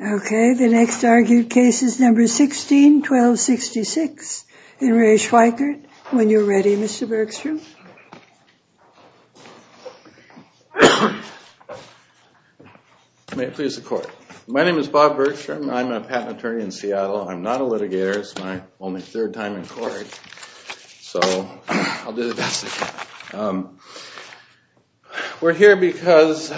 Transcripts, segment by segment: Okay, the next argued case is number 16-12-66, and Re Schweickert, when you're ready, Mr. Bergstrom. May it please the court. My name is Bob Bergstrom, I'm a patent attorney in Seattle, I'm not a litigator, it's my only third time in court, so I'll do the best I can. We're here because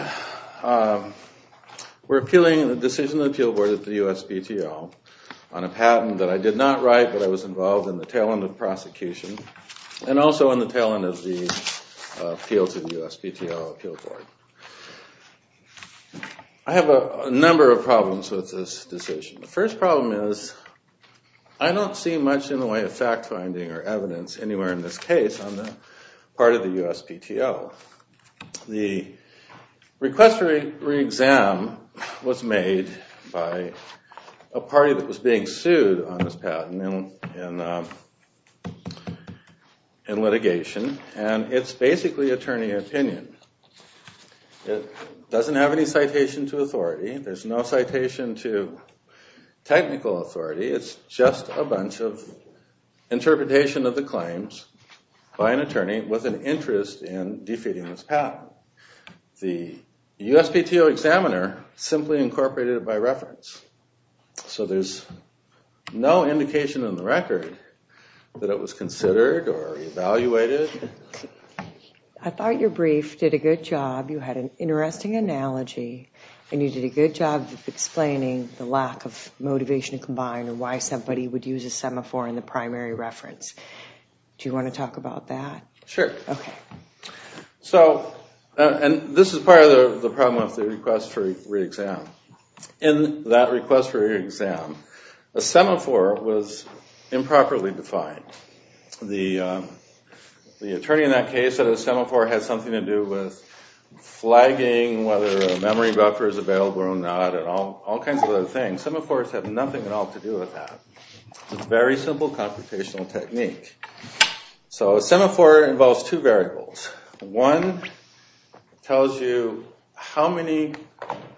we're appealing the decision of the appeal board at the USPTO on a patent that I did not write, but I was involved in the tail end of the prosecution, and also in the tail end of the appeal to the USPTO appeal board. I have a number of problems with this decision. The first problem is, I don't see much in the way of fact finding or evidence anywhere in this case on the part of the USPTO. The request for re-exam was made by a party that was being sued on this patent in litigation, and it's basically attorney opinion. It doesn't have any citation to authority, there's no citation to technical authority, it's just a bunch of interpretation of the claims by an attorney with an interest in defeating this patent. The USPTO examiner simply incorporated it by reference, so there's no indication in the record that it was considered or evaluated. I thought your brief did a good job, you had an interesting analogy, and you did a good job of explaining the lack of motivation combined and why somebody would use a semaphore in the primary reference. Do you want to talk about that? Sure. Okay. So, and this is part of the problem of the request for re-exam. In that request for re-exam, a semaphore was improperly defined. The attorney in that case said a semaphore has something to do with flagging whether a memory buffer is available or not, and all kinds of other things. Semaphores have nothing at all to do with that. Very simple computational technique. So a semaphore involves two variables. One tells you how many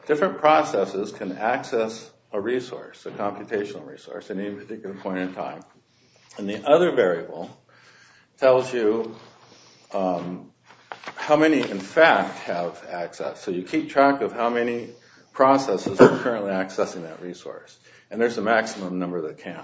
different processes can access a resource, a computational resource, at any particular point in time. And the other variable tells you how many, in fact, have access. So you keep track of how many processes are currently accessing that resource, and there's a maximum number that can.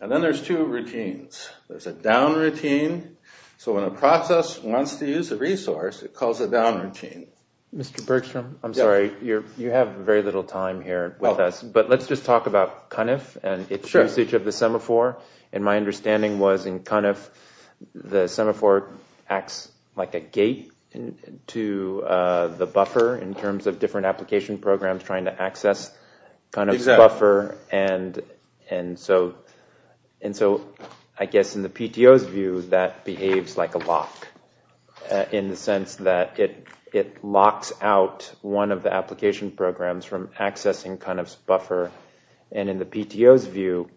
And then there's two routines. There's a down routine. So when a process wants to use a resource, it calls a down routine. Mr. Bergstrom, I'm sorry, you have very little time here with us, but let's just talk about CUNF and its usage of the semaphore. And my understanding was in CUNF, the semaphore acts like a gate to the buffer in terms of And so I guess in the PTO's view, that behaves like a lock in the sense that it locks out one of the application programs from accessing CUNF's buffer. And in the PTO's view,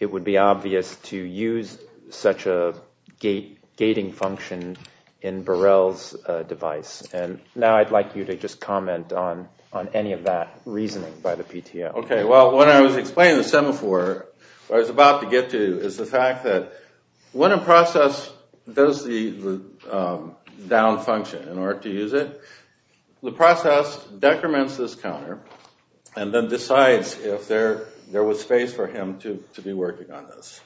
it would be obvious to use such a gating function in Burrell's device. And now I'd like you to just comment on any of that reasoning by the PTO. Okay, well, when I was explaining the semaphore, what I was about to get to is the fact that when a process does the down function in order to use it, the process decrements this counter and then decides if there was space for him to be working on this.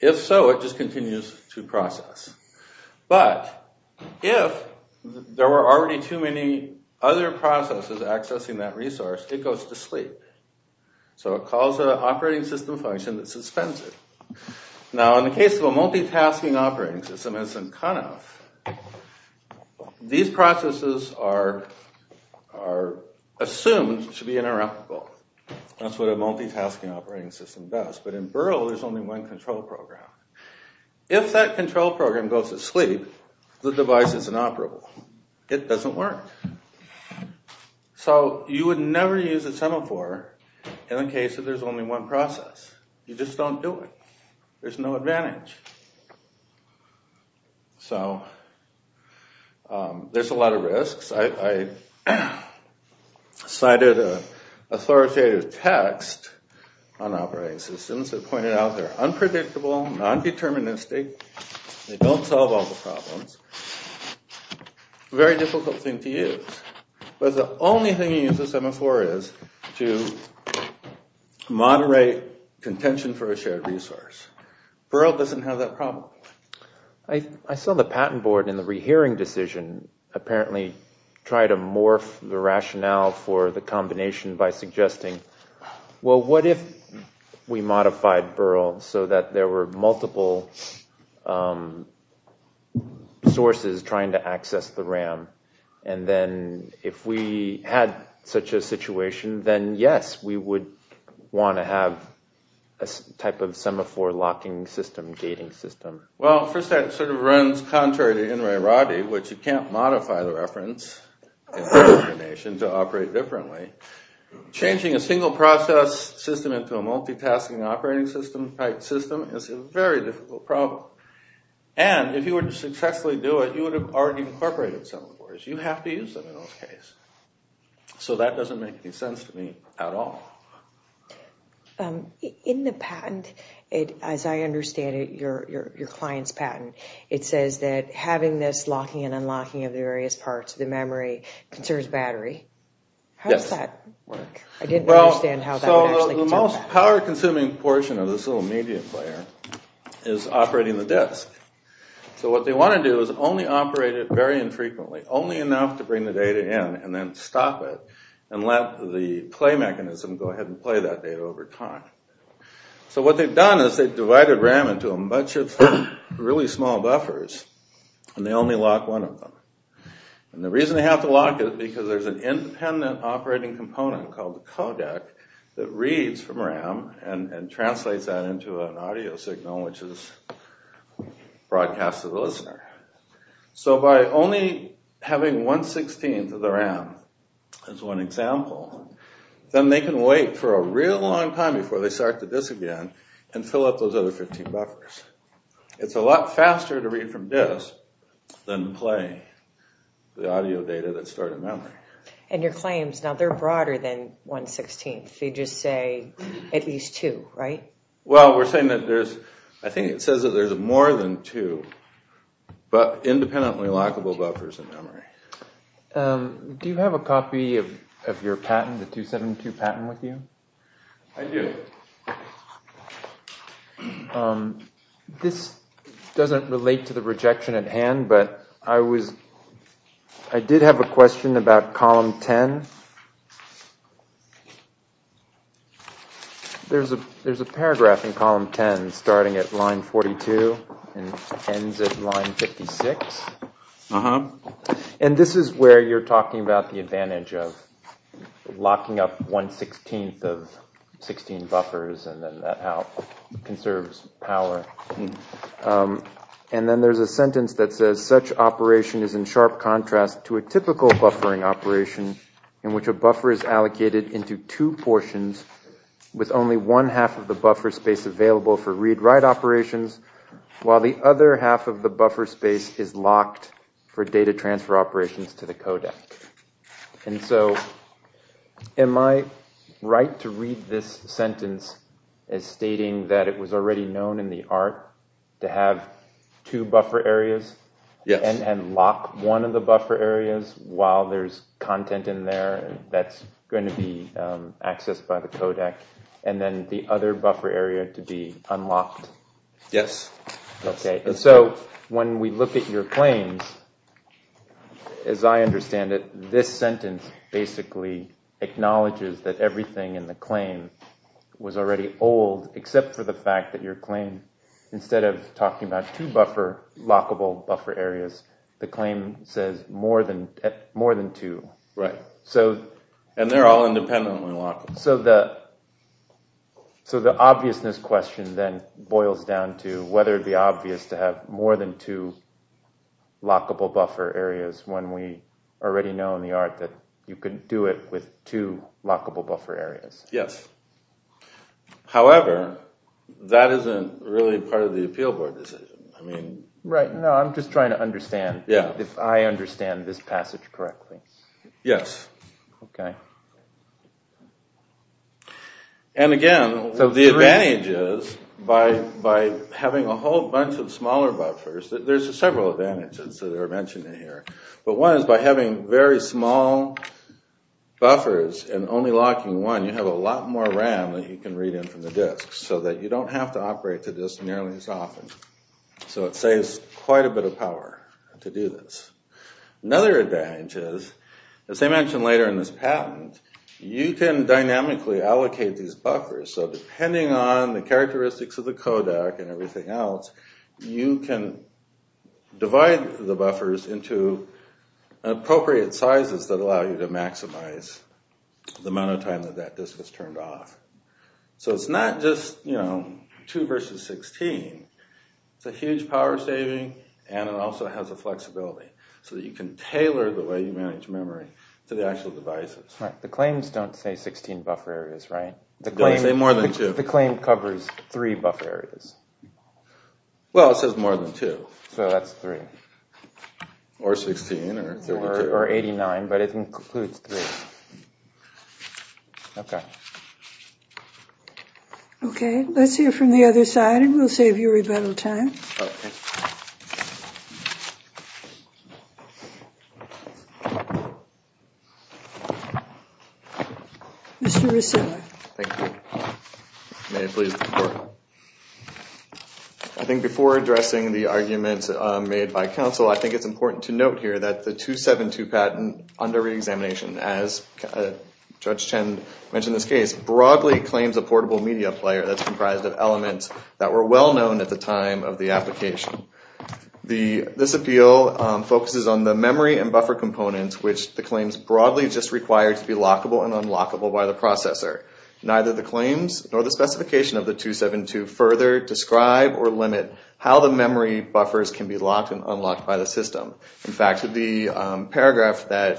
If so, it just continues to process. But if there were already too many other processes accessing that resource, it goes to sleep. So it calls an operating system function that suspends it. Now in the case of a multitasking operating system as in CUNF, these processes are assumed to be interoperable. That's what a multitasking operating system does. But in Burrell, there's only one control program. If that control program goes to sleep, the device is inoperable. It doesn't work. So you would never use a semaphore in the case that there's only one process. You just don't do it. There's no advantage. So there's a lot of risks. I cited an authoritative text on operating systems that pointed out they're unpredictable, non-deterministic, they don't solve all the problems. Very difficult thing to use. But the only thing you use a semaphore is to moderate contention for a shared resource. Burrell doesn't have that problem. I saw the patent board in the rehearing decision apparently try to morph the rationale for the combination by suggesting, well, what if we modified Burrell so that there were multiple sources trying to access the RAM? And then if we had such a situation, then yes, we would want to have a type of semaphore locking system, gating system. Well, first that sort of runs contrary to Enri Roddy, which you can't modify the reference in the combination to operate differently. Changing a single process system into a multitasking operating system type system is a very difficult problem. And if you were to successfully do it, you would have already incorporated semaphores. You have to use them in those cases. So that doesn't make any sense to me at all. In the patent, as I understand it, your client's patent, it says that having this locking and unlocking of the various parts of the memory concerns battery. How does that work? I didn't understand how that would actually concern battery. Well, so the most power consuming portion of this little media player is operating the disk. So what they want to do is only operate it very infrequently, only enough to bring the play mechanism go ahead and play that data over time. So what they've done is they've divided RAM into a bunch of really small buffers and they only lock one of them. And the reason they have to lock it is because there's an independent operating component called the codec that reads from RAM and translates that into an audio signal, which is broadcast to the listener. So by only having 1 16th of the RAM as one example, then they can wait for a real long time before they start the disk again and fill up those other 15 buffers. It's a lot faster to read from disk than play the audio data that's stored in memory. And your claims, now they're broader than 1 16th, they just say at least two, right? Well, we're saying that there's, I think it says that there's more than two, but independently lockable buffers in memory. Do you have a copy of your patent, the 272 patent with you? I do. This doesn't relate to the rejection at hand, but I did have a question about column 10. There's a, there's a paragraph in column 10 starting at line 42 and ends at line 56. And this is where you're talking about the advantage of locking up 1 16th of 16 buffers and then that out conserves power. And then there's a sentence that says such operation is in sharp contrast to a typical buffering operation in which a buffer is allocated into two portions with only one half of the buffer space available for read write operations, while the other half of the buffer space is locked for data transfer operations to the codec. And so am I right to read this sentence as stating that it was already known in the art to have two buffer areas and lock one of the buffer areas while there's content in there that's going to be accessed by the codec and then the other buffer area to be unlocked? Yes. Okay. And so when we look at your claims, as I understand it, this sentence basically acknowledges that everything in the claim was already old except for the fact that your claim, instead of talking about two buffer, lockable buffer areas, the claim says more than, more than two. Right. So. And they're all independently lockable. So the, so the obviousness question then boils down to whether it be obvious to have more than two lockable buffer areas when we already know in the art that you can do it with two lockable buffer areas. Yes. However, that isn't really part of the appeal board decision. I mean. Right. No, I'm just trying to understand. Yeah. If I understand this passage correctly. Yes. Okay. And again, the advantage is by having a whole bunch of smaller buffers, there's several advantages that are mentioned in here, but one is by having very small buffers and only locking one, you have a lot more RAM that you can read in from the disk so that you don't have to operate the disk nearly as often. So it saves quite a bit of power to do this. Another advantage is, as I mentioned later in this patent, you can dynamically allocate these buffers. So depending on the characteristics of the codec and everything else, you can divide the buffers into appropriate sizes that allow you to maximize the amount of time that that disk was turned off. So it's not just, you know, two versus 16. It's a huge power saving and it also has a flexibility so that you can tailor the way you manage memory to the actual devices. Right. The claims don't say 16 buffer areas, right? They don't say more than two. The claim covers three buffer areas. Well, it says more than two. So that's three. Or 16 or 32. Or 89, but it includes three. Okay. Okay, let's hear from the other side and we'll save you rebuttal time. Okay. Thank you. Mr. Resiller. Thank you. May it please the Court. I think before addressing the arguments made by counsel, I think it's important to note here that the 272 patent under reexamination, as Judge Chen mentioned in this case, broadly claims a portable media player that's comprised of elements that were well known at the time of the application. This appeal focuses on the memory and buffer components which the claims broadly just require to be lockable and unlockable by the processor. Neither the claims nor the specification of the 272 further describe or limit how the memory buffers can be locked and unlocked by the system. In fact, the paragraph that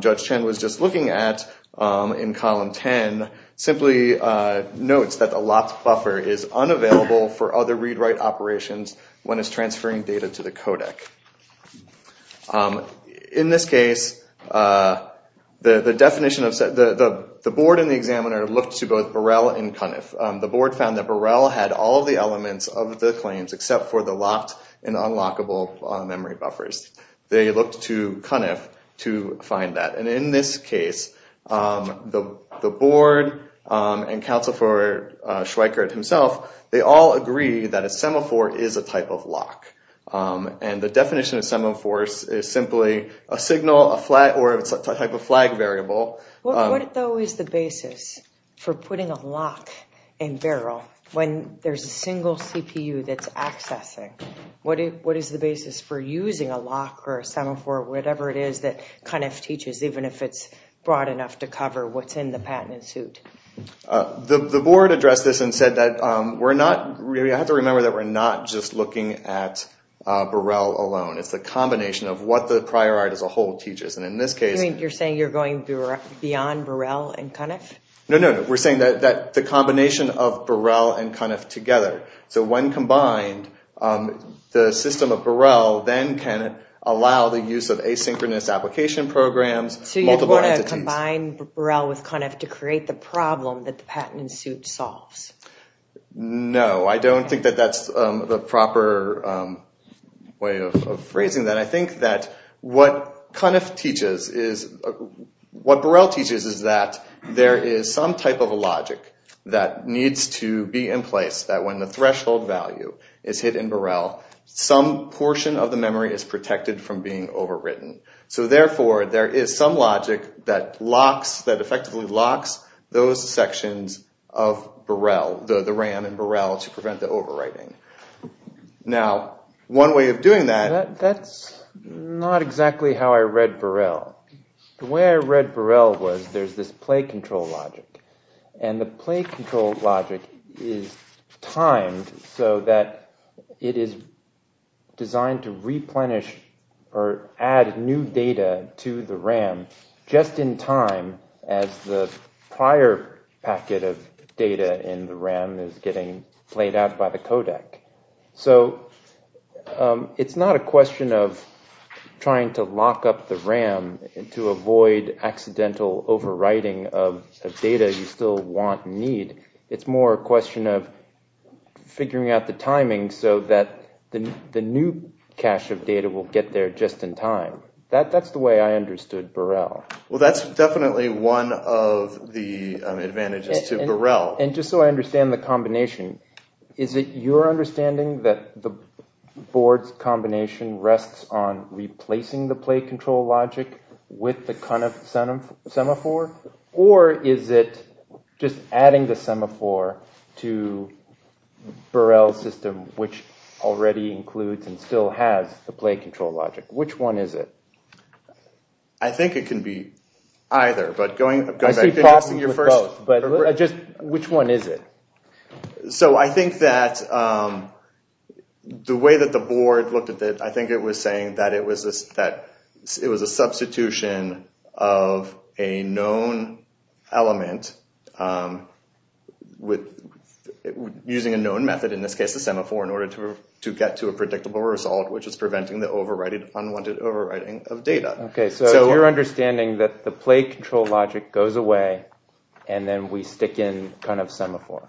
Judge Chen was just looking at in column 10 simply notes that the locked buffer is unavailable for other read-write operations when it's transferring data to the codec. In this case, the board and the examiner looked to both Burrell and Cunniff. The board found that Burrell had all the elements of the claims except for the locked and unlockable memory buffers. They looked to Cunniff to find that. In this case, the board and counsel for Schweikert himself, they all agree that a semaphore is a type of lock. The definition of semaphore is simply a signal or a type of flag variable. What though is the basis for putting a lock in Burrell when there's a single CPU that's accessing? What is the basis for using a lock or a semaphore or whatever it is that Cunniff teaches even if it's broad enough to cover what's in the patent suit? The board addressed this and said that we're not just looking at Burrell alone. It's the combination of what the prior art as a whole teaches. You're saying you're going beyond Burrell and Cunniff? No, we're saying that the combination of Burrell and Cunniff together. So when combined, the system of Burrell then can allow the use of asynchronous application programs, multiple entities. So you want to combine Burrell with Cunniff to create the problem that the patent suit solves? No, I don't think that that's the proper way of phrasing that. I think that what Cunniff teaches is, what Burrell teaches is that there is some type of logic that needs to be in place that when the threshold value is hit in Burrell, some portion of the memory is protected from being overwritten. So therefore, there is some logic that effectively locks those sections of Burrell, the RAM in Burrell, to prevent the overwriting. Now, one way of doing that... That's not exactly how I read Burrell. The way I read Burrell was there's this play control logic. And the play control logic is timed so that it is designed to replenish or add new data to the RAM just in time as the prior packet of data in the RAM is getting played out by the codec. So, it's not a question of trying to lock up the RAM to avoid accidental overwriting of data you still want and need. It's more a question of figuring out the timing so that the new cache of data will get there just in time. That's the way I understood Burrell. And just so I understand the combination. Is it your understanding that the board's combination rests on replacing the play control logic with the Cunniff semaphore? Or is it just adding the semaphore to Burrell's system, which already includes and still has the play control logic? Which one is it? I think it can be either. Which one is it? So, I think that the way that the board looked at it, I think it was saying that it was a substitution of a known element using a known method, in this case the semaphore, in order to get to a predictable result, which is preventing the unwanted overwriting of data. So, it's your understanding that the play control logic goes away and then we stick in Cunniff semaphore?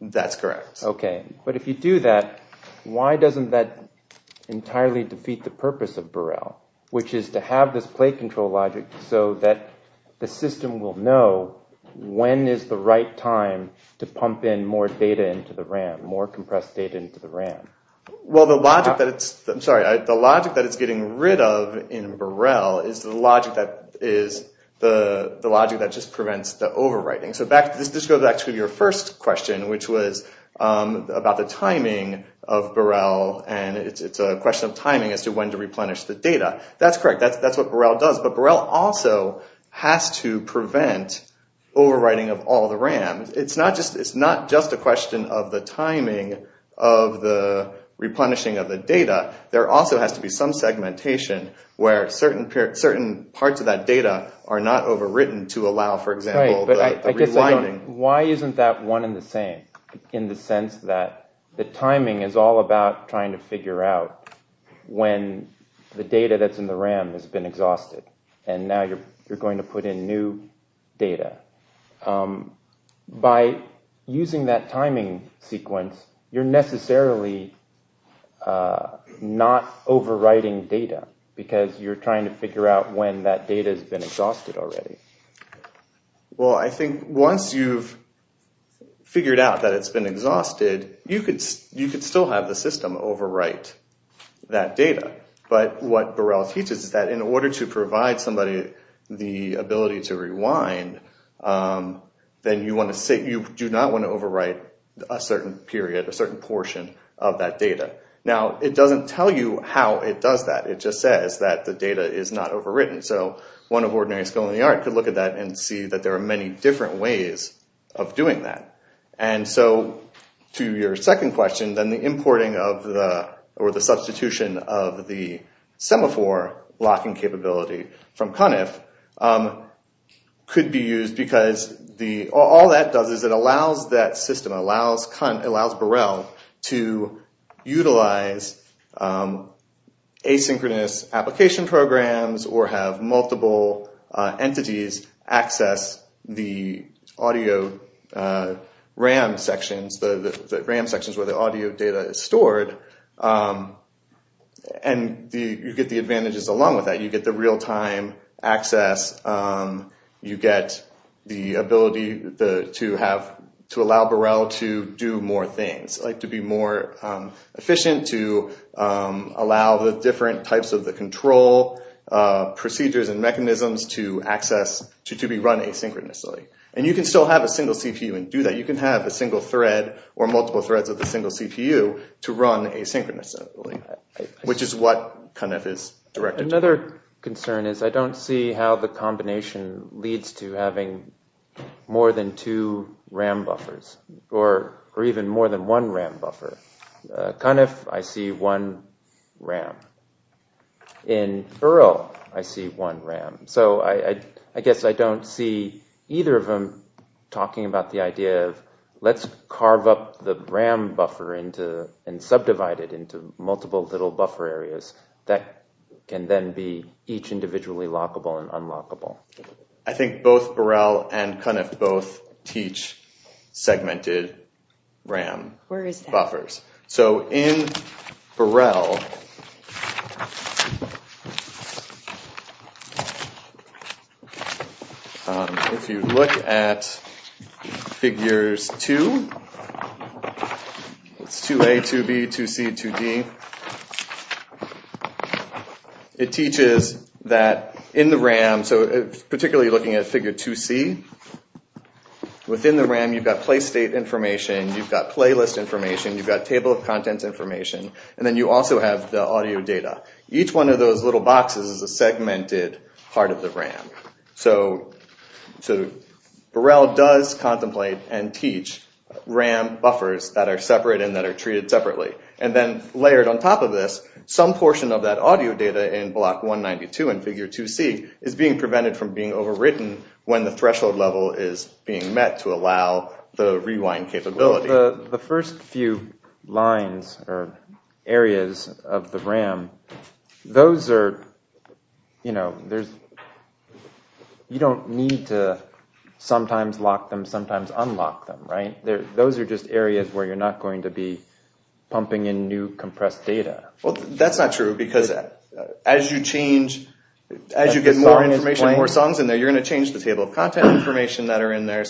That's correct. Okay. But if you do that, why doesn't that entirely defeat the purpose of Burrell? Which is to have this play control logic so that the system will know when is the right time to pump in more data into the RAM, more compressed data into the RAM. Well, the logic that it's getting rid of in Burrell is the logic that just prevents the overwriting. So, this goes back to your first question, which was about the timing of Burrell. And it's a question of timing as to when to replenish the data. That's correct. That's what Burrell does. But Burrell also has to prevent overwriting of all the RAM. It's not just a question of the timing of the replenishing of the data. There also has to be some segmentation where certain parts of that data are not overwritten to allow, for example, the rewinding. Why isn't that one and the same? In the sense that the timing is all about trying to figure out when the data that's in the RAM has been exhausted and now you're going to put in new data. By using that timing sequence, you're necessarily not overwriting data because you're trying to figure out when that data has been exhausted already. Well, I think once you've figured out that it's been exhausted, you could still have the system overwrite that data. But what Burrell teaches is that in order to provide somebody the ability to rewind, then you do not want to overwrite a certain period, a certain portion of that data. Now, it doesn't tell you how it does that. It just says that the data is not overwritten. So one of ordinary skill in the art could look at that and see that there are many different ways of doing that. To your second question, then the importing or the substitution of the semaphore locking capability from CUNIF could be used because all that does is it allows that system, allows Burrell to utilize asynchronous application programs or have multiple entities access the audio RAM sections, the RAM sections where the audio data is stored, and you get the advantages along with that. You get the real-time access. You get the ability to allow Burrell to do more things, to be more efficient, to allow the different types of the control procedures and mechanisms to access, to be run asynchronously. And you can still have a single CPU and do that. You can have a single thread or multiple threads of the single CPU to run asynchronously, which is what CUNIF is directed to. Another concern is I don't see how the combination leads to having more than two RAM buffers or even more than one RAM buffer. CUNIF, I see one RAM. In Burrell, I see one RAM. So I guess I don't see either of them talking about the idea of let's carve up the RAM buffer and subdivide it into multiple little buffer areas that can then be each individually lockable and unlockable. I think both Burrell and CUNIF both teach segmented RAM buffers. Where is that? So in Burrell, if you look at figures 2, it's 2A, 2B, 2C, 2D. It teaches that in the RAM, particularly looking at figure 2C, within the RAM you've got play state information. You've got playlist information. You've got table of contents information. And then you also have the audio data. Each one of those little boxes is a segmented part of the RAM. So Burrell does contemplate and teach RAM buffers that are separate and that are treated separately. And then layered on top of this, some portion of that audio data in block 192 and figure 2C is being prevented from being overwritten when the rewind capability. The first few lines or areas of the RAM, you don't need to sometimes lock them, sometimes unlock them. Those are just areas where you're not going to be pumping in new compressed data. That's not true because as you get more information, more songs in there, you're going to change the table of contents information that are in there.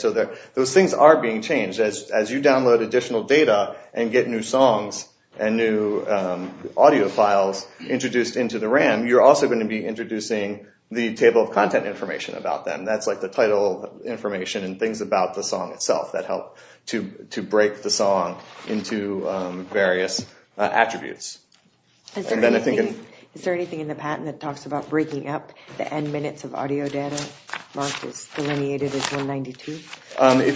Those things are being changed. As you download additional data and get new songs and new audio files introduced into the RAM, you're also going to be introducing the table of content information about them. That's like the title information and things about the song itself that help to break the song into various attributes. Is there anything in the patent that talks about breaking up the end minutes of audio data? If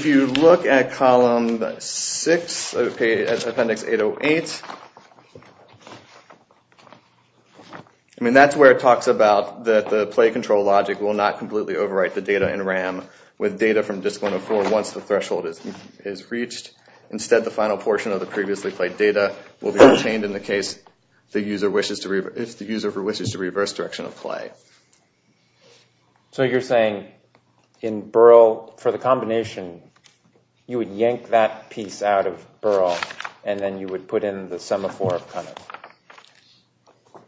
you look at Column 6, Appendix 808, that's where it talks about that the play control logic will not completely overwrite the data in RAM with data from Disk 104 once the threshold is reached. Instead, the final portion of the previously played data will be retained in the case if the user wishes to reverse direction of play. So you're saying in Burrell, for the combination, you would yank that piece out of Burrell and then you would put in the semaphore of CUNF?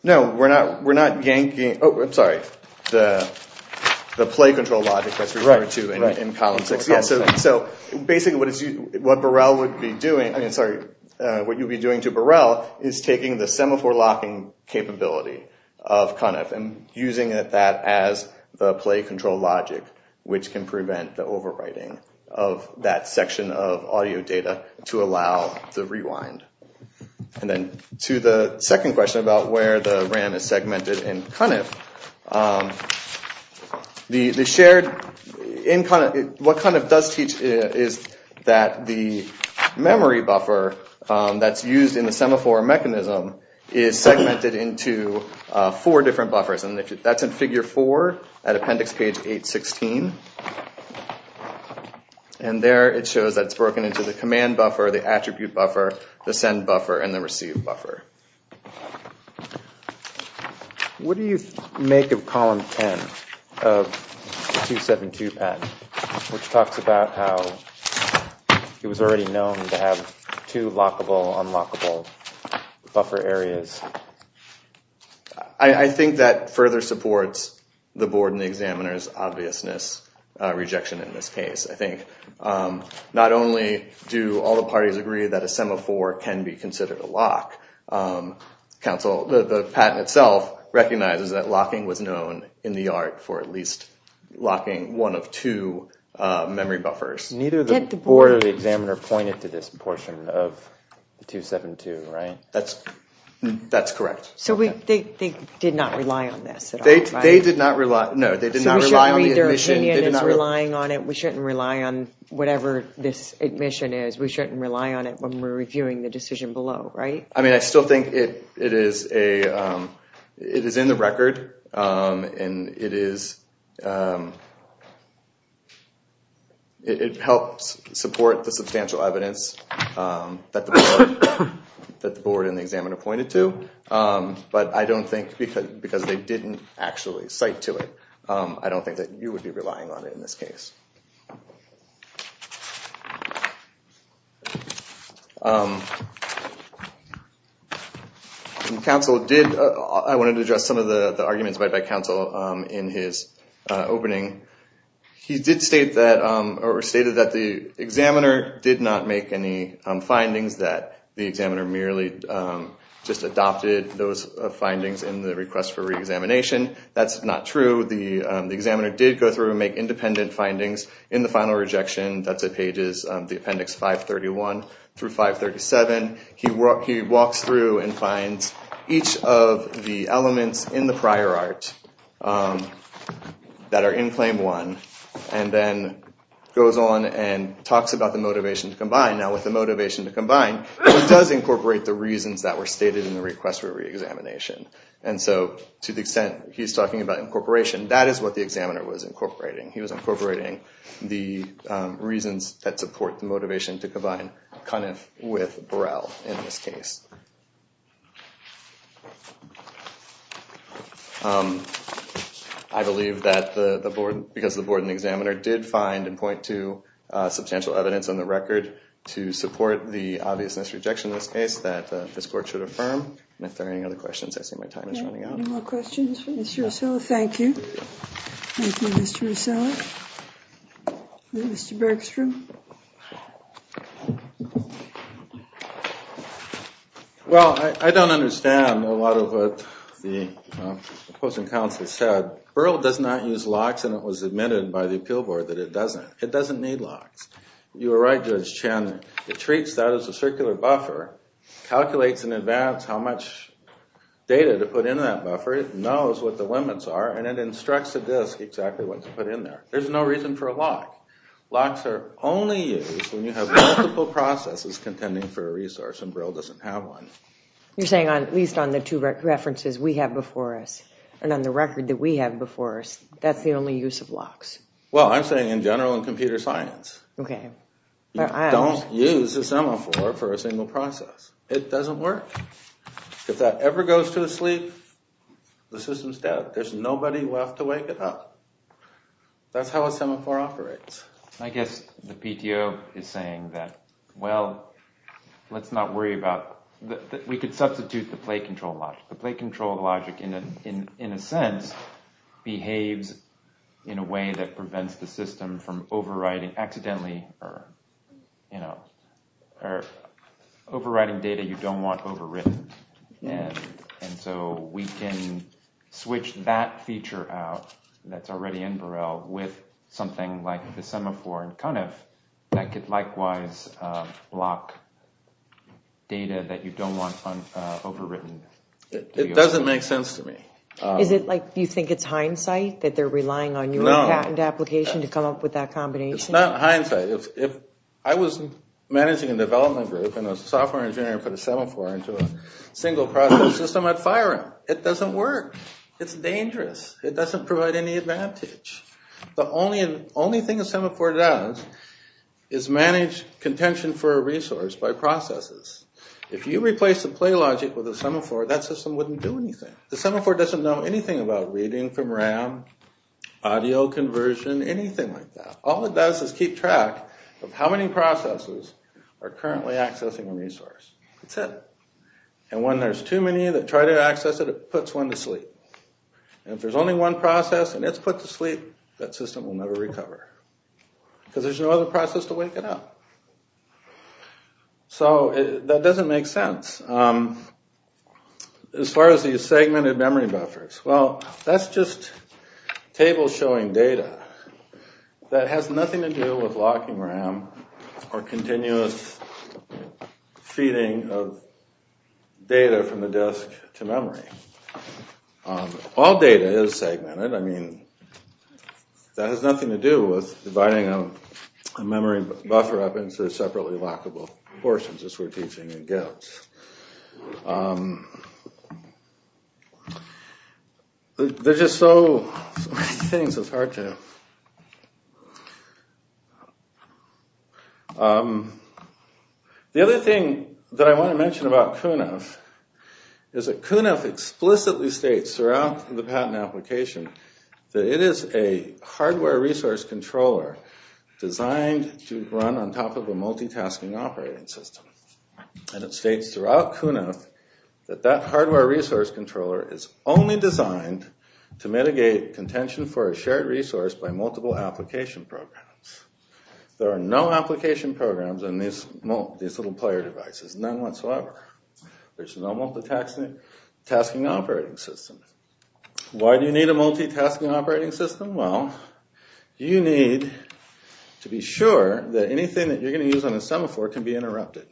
No, we're not yanking. Oh, I'm sorry. The play control logic that's referred to in Column 6. So basically what you'd be doing to Burrell is taking the semaphore locking capability of CUNF and using that as the play control logic, which can prevent the overwriting of that section of audio data to allow the rewind. To the second question about where the RAM is segmented in CUNF, what CUNF does teach is that the memory buffer that's used in the semaphore mechanism is segmented into four different buffers. And that's in Figure 4 at Appendix Page 816. And there it shows that it's broken into the command buffer, the attribute buffer, the send buffer, and the receive buffer. What do you make of Column 10 of the 272 patent, which talks about how it was segmented into four different buffer areas? I think that further supports the board and the examiner's obviousness rejection in this case. I think not only do all the parties agree that a semaphore can be considered a lock, the patent itself recognizes that locking was known in the art for at least locking one of two memory buffers. Neither the board or the examiner pointed to this portion of 272, right? That's correct. So they did not rely on this at all, right? No, they did not rely on the admission. So we shouldn't read their opinion as relying on it. We shouldn't rely on whatever this admission is. We shouldn't rely on it when we're reviewing the decision below, right? I mean, I still think it is in the record and it helps support the substantial evidence that the board and the examiner pointed to, but I don't think because they didn't actually cite to it, I don't think that you would be relying on it in this case. I wanted to address some of the arguments made by counsel in his opening. He did state that or stated that the examiner did not make any findings that the examiner merely just adopted those findings in the request for reexamination. That's not true. The examiner did go through and make independent findings in the final rejection. That's at pages, the appendix 531 through 537. He walks through and finds each of the elements in the prior art that are in claim one and then goes on and talks about the motivation to combine. Now with the motivation to combine, he does incorporate the reasons that were stated in the request for reexamination. And so to the extent he's talking about incorporation, that is what the examiner was incorporating. He was incorporating the reasons that support the motivation to combine with Burrell in this case. I believe that the board, because the board and the examiner did find and point to substantial evidence on the record to support the obviousness rejection in this case that this court should affirm. If there are any other questions, I see my time is running out. Any more questions for Mr. Russella? Thank you. Thank you, Mr. Russella. Mr. Bergstrom? Well, I don't understand a lot of what the opposing counsel said. Burrell does not use locks and it was admitted by the appeal board that it doesn't. It doesn't need locks. You were right, Judge Chandler. It treats that as a circular buffer, calculates in advance how much data to put in that buffer. It knows what the limits are and it instructs the disc exactly what data to put in there. There's no reason for a lock. Locks are only used when you have multiple processes contending for a resource and Burrell doesn't have one. You're saying at least on the two references we have before us and on the record that we have before us, that's the only use of locks? Well, I'm saying in general in computer science. You don't use a semaphore for a single process. It doesn't work. If that ever goes to sleep, the system's dead. There's nobody left to wake it up. That's how a semaphore operates. I guess the PTO is saying that, well, let's not worry about that. We could substitute the plate control logic. The plate control logic in a sense behaves in a way that prevents the system from overriding accidentally or overriding data you don't want overwritten. And so we can switch that feature out that's already in Burrell with something like the semaphore and kind of that could likewise lock data that you don't want overwritten. It doesn't make sense to me. Is it like you think it's hindsight that they're relying on your patent application to come up with that combination? It's not hindsight. If I was managing a development group and a software engineer put a single process system, I'd fire him. It doesn't work. It's dangerous. It doesn't provide any advantage. The only thing a semaphore does is manage contention for a resource by processes. If you replace the plate logic with a semaphore, that system wouldn't do anything. The semaphore doesn't know anything about reading from RAM, audio conversion, anything like that. All it does is keep track of how many processes are currently accessing a resource. That's it. And when there's too many that try to access it, it puts one to sleep. And if there's only one process and it's put to sleep, that system will never recover because there's no other process to wake it up. So that doesn't make sense. As far as these segmented memory buffers, well, that's just tables showing data. That has nothing to do with locking RAM or continuous feeding of data from the disk to memory. All data is segmented. I mean, that has nothing to do with dividing a memory buffer up into separately lockable portions, as we're teaching in GIT. There's just so many things. It's hard to... The other thing that I want to mention about CUNAF is that CUNAF explicitly states throughout the patent application that it is a hardware resource controller designed to run on top of a multitasking operating system. And it states throughout CUNAF that that hardware resource controller is only designed to mitigate contention for a shared resource by multiple application programs. There are no application programs on these little player devices. None whatsoever. There's no multitasking operating system. Why do you need a multitasking operating system? Well, you need to be sure that anything that you're going to use on a semaphore can be interrupted,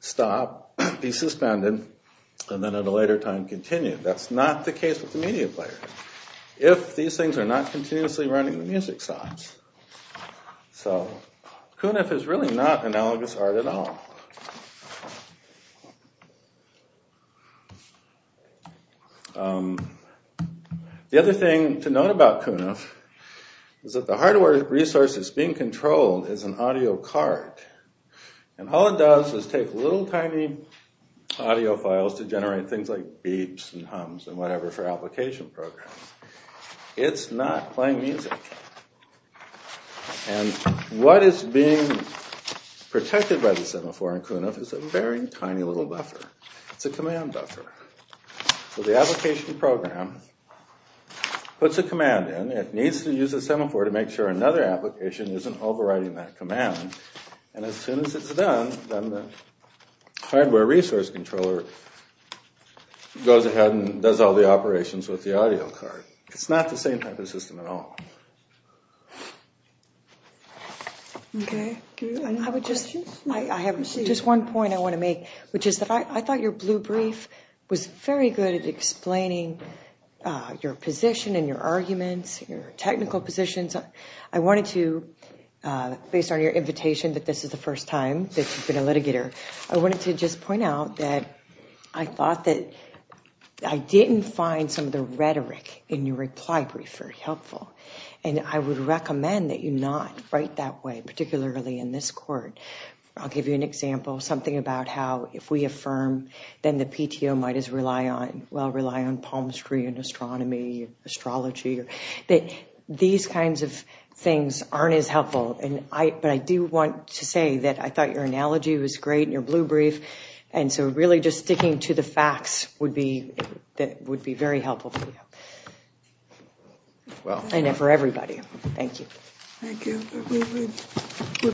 stop, be suspended, and then at a later time continue. That's not the case with the media player. If these things are not continuously running, the music stops. So CUNAF is really not analogous art at all. The other thing to note about CUNAF is that the hardware resource that's being controlled is an audio card. And all it does is take little tiny audio files to generate things like beeps and hums and whatever for application programs. It's not playing music. And what is being protected by the semaphore in CUNAF is a very tiny little buffer. It's a command buffer. So the application program puts a command in. It needs to use a semaphore to make sure another application isn't overriding that command. And as soon as it's done, then the hardware resource controller goes ahead and does all the operations with the audio card. It's not the same type of system at all. Okay. I have just one point I want to make, which is that I thought your blue brief was very good at explaining your position and your arguments, your technical positions. I wanted to, based on your invitation that this is the first time that you've been a litigator, I wanted to just point out that I thought that I didn't find some of the rhetoric in your reply brief very helpful. And I would recommend that you not write that way, particularly in this court. I'll give you an example, something about how if we affirm, then the PTO might as well rely on palmistry and astronomy and astrology. These kinds of things aren't as helpful. But I do want to say that I thought your analogy was great in your blue brief, and so really just sticking to the facts would be very helpful for you. And for everybody. Thank you. Thank you. Thank you. Thank you.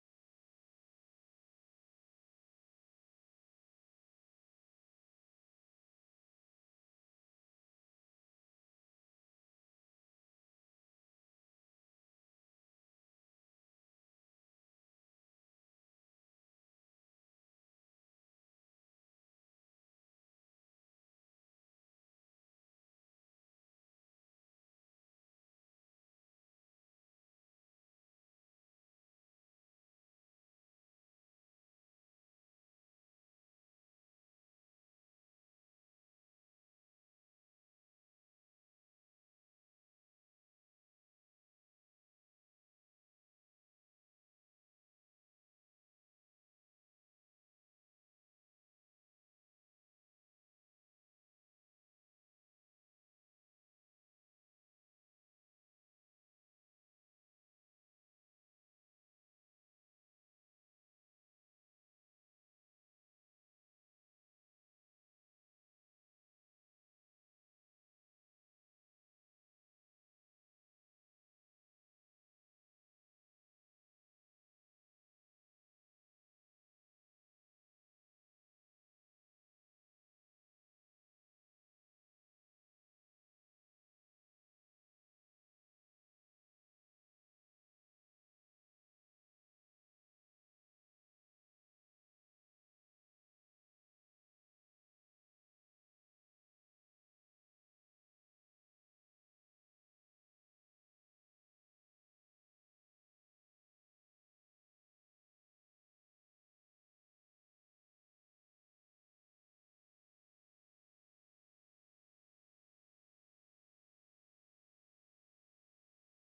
Thank you. Thank you. Thank you. Thank you. Thank you.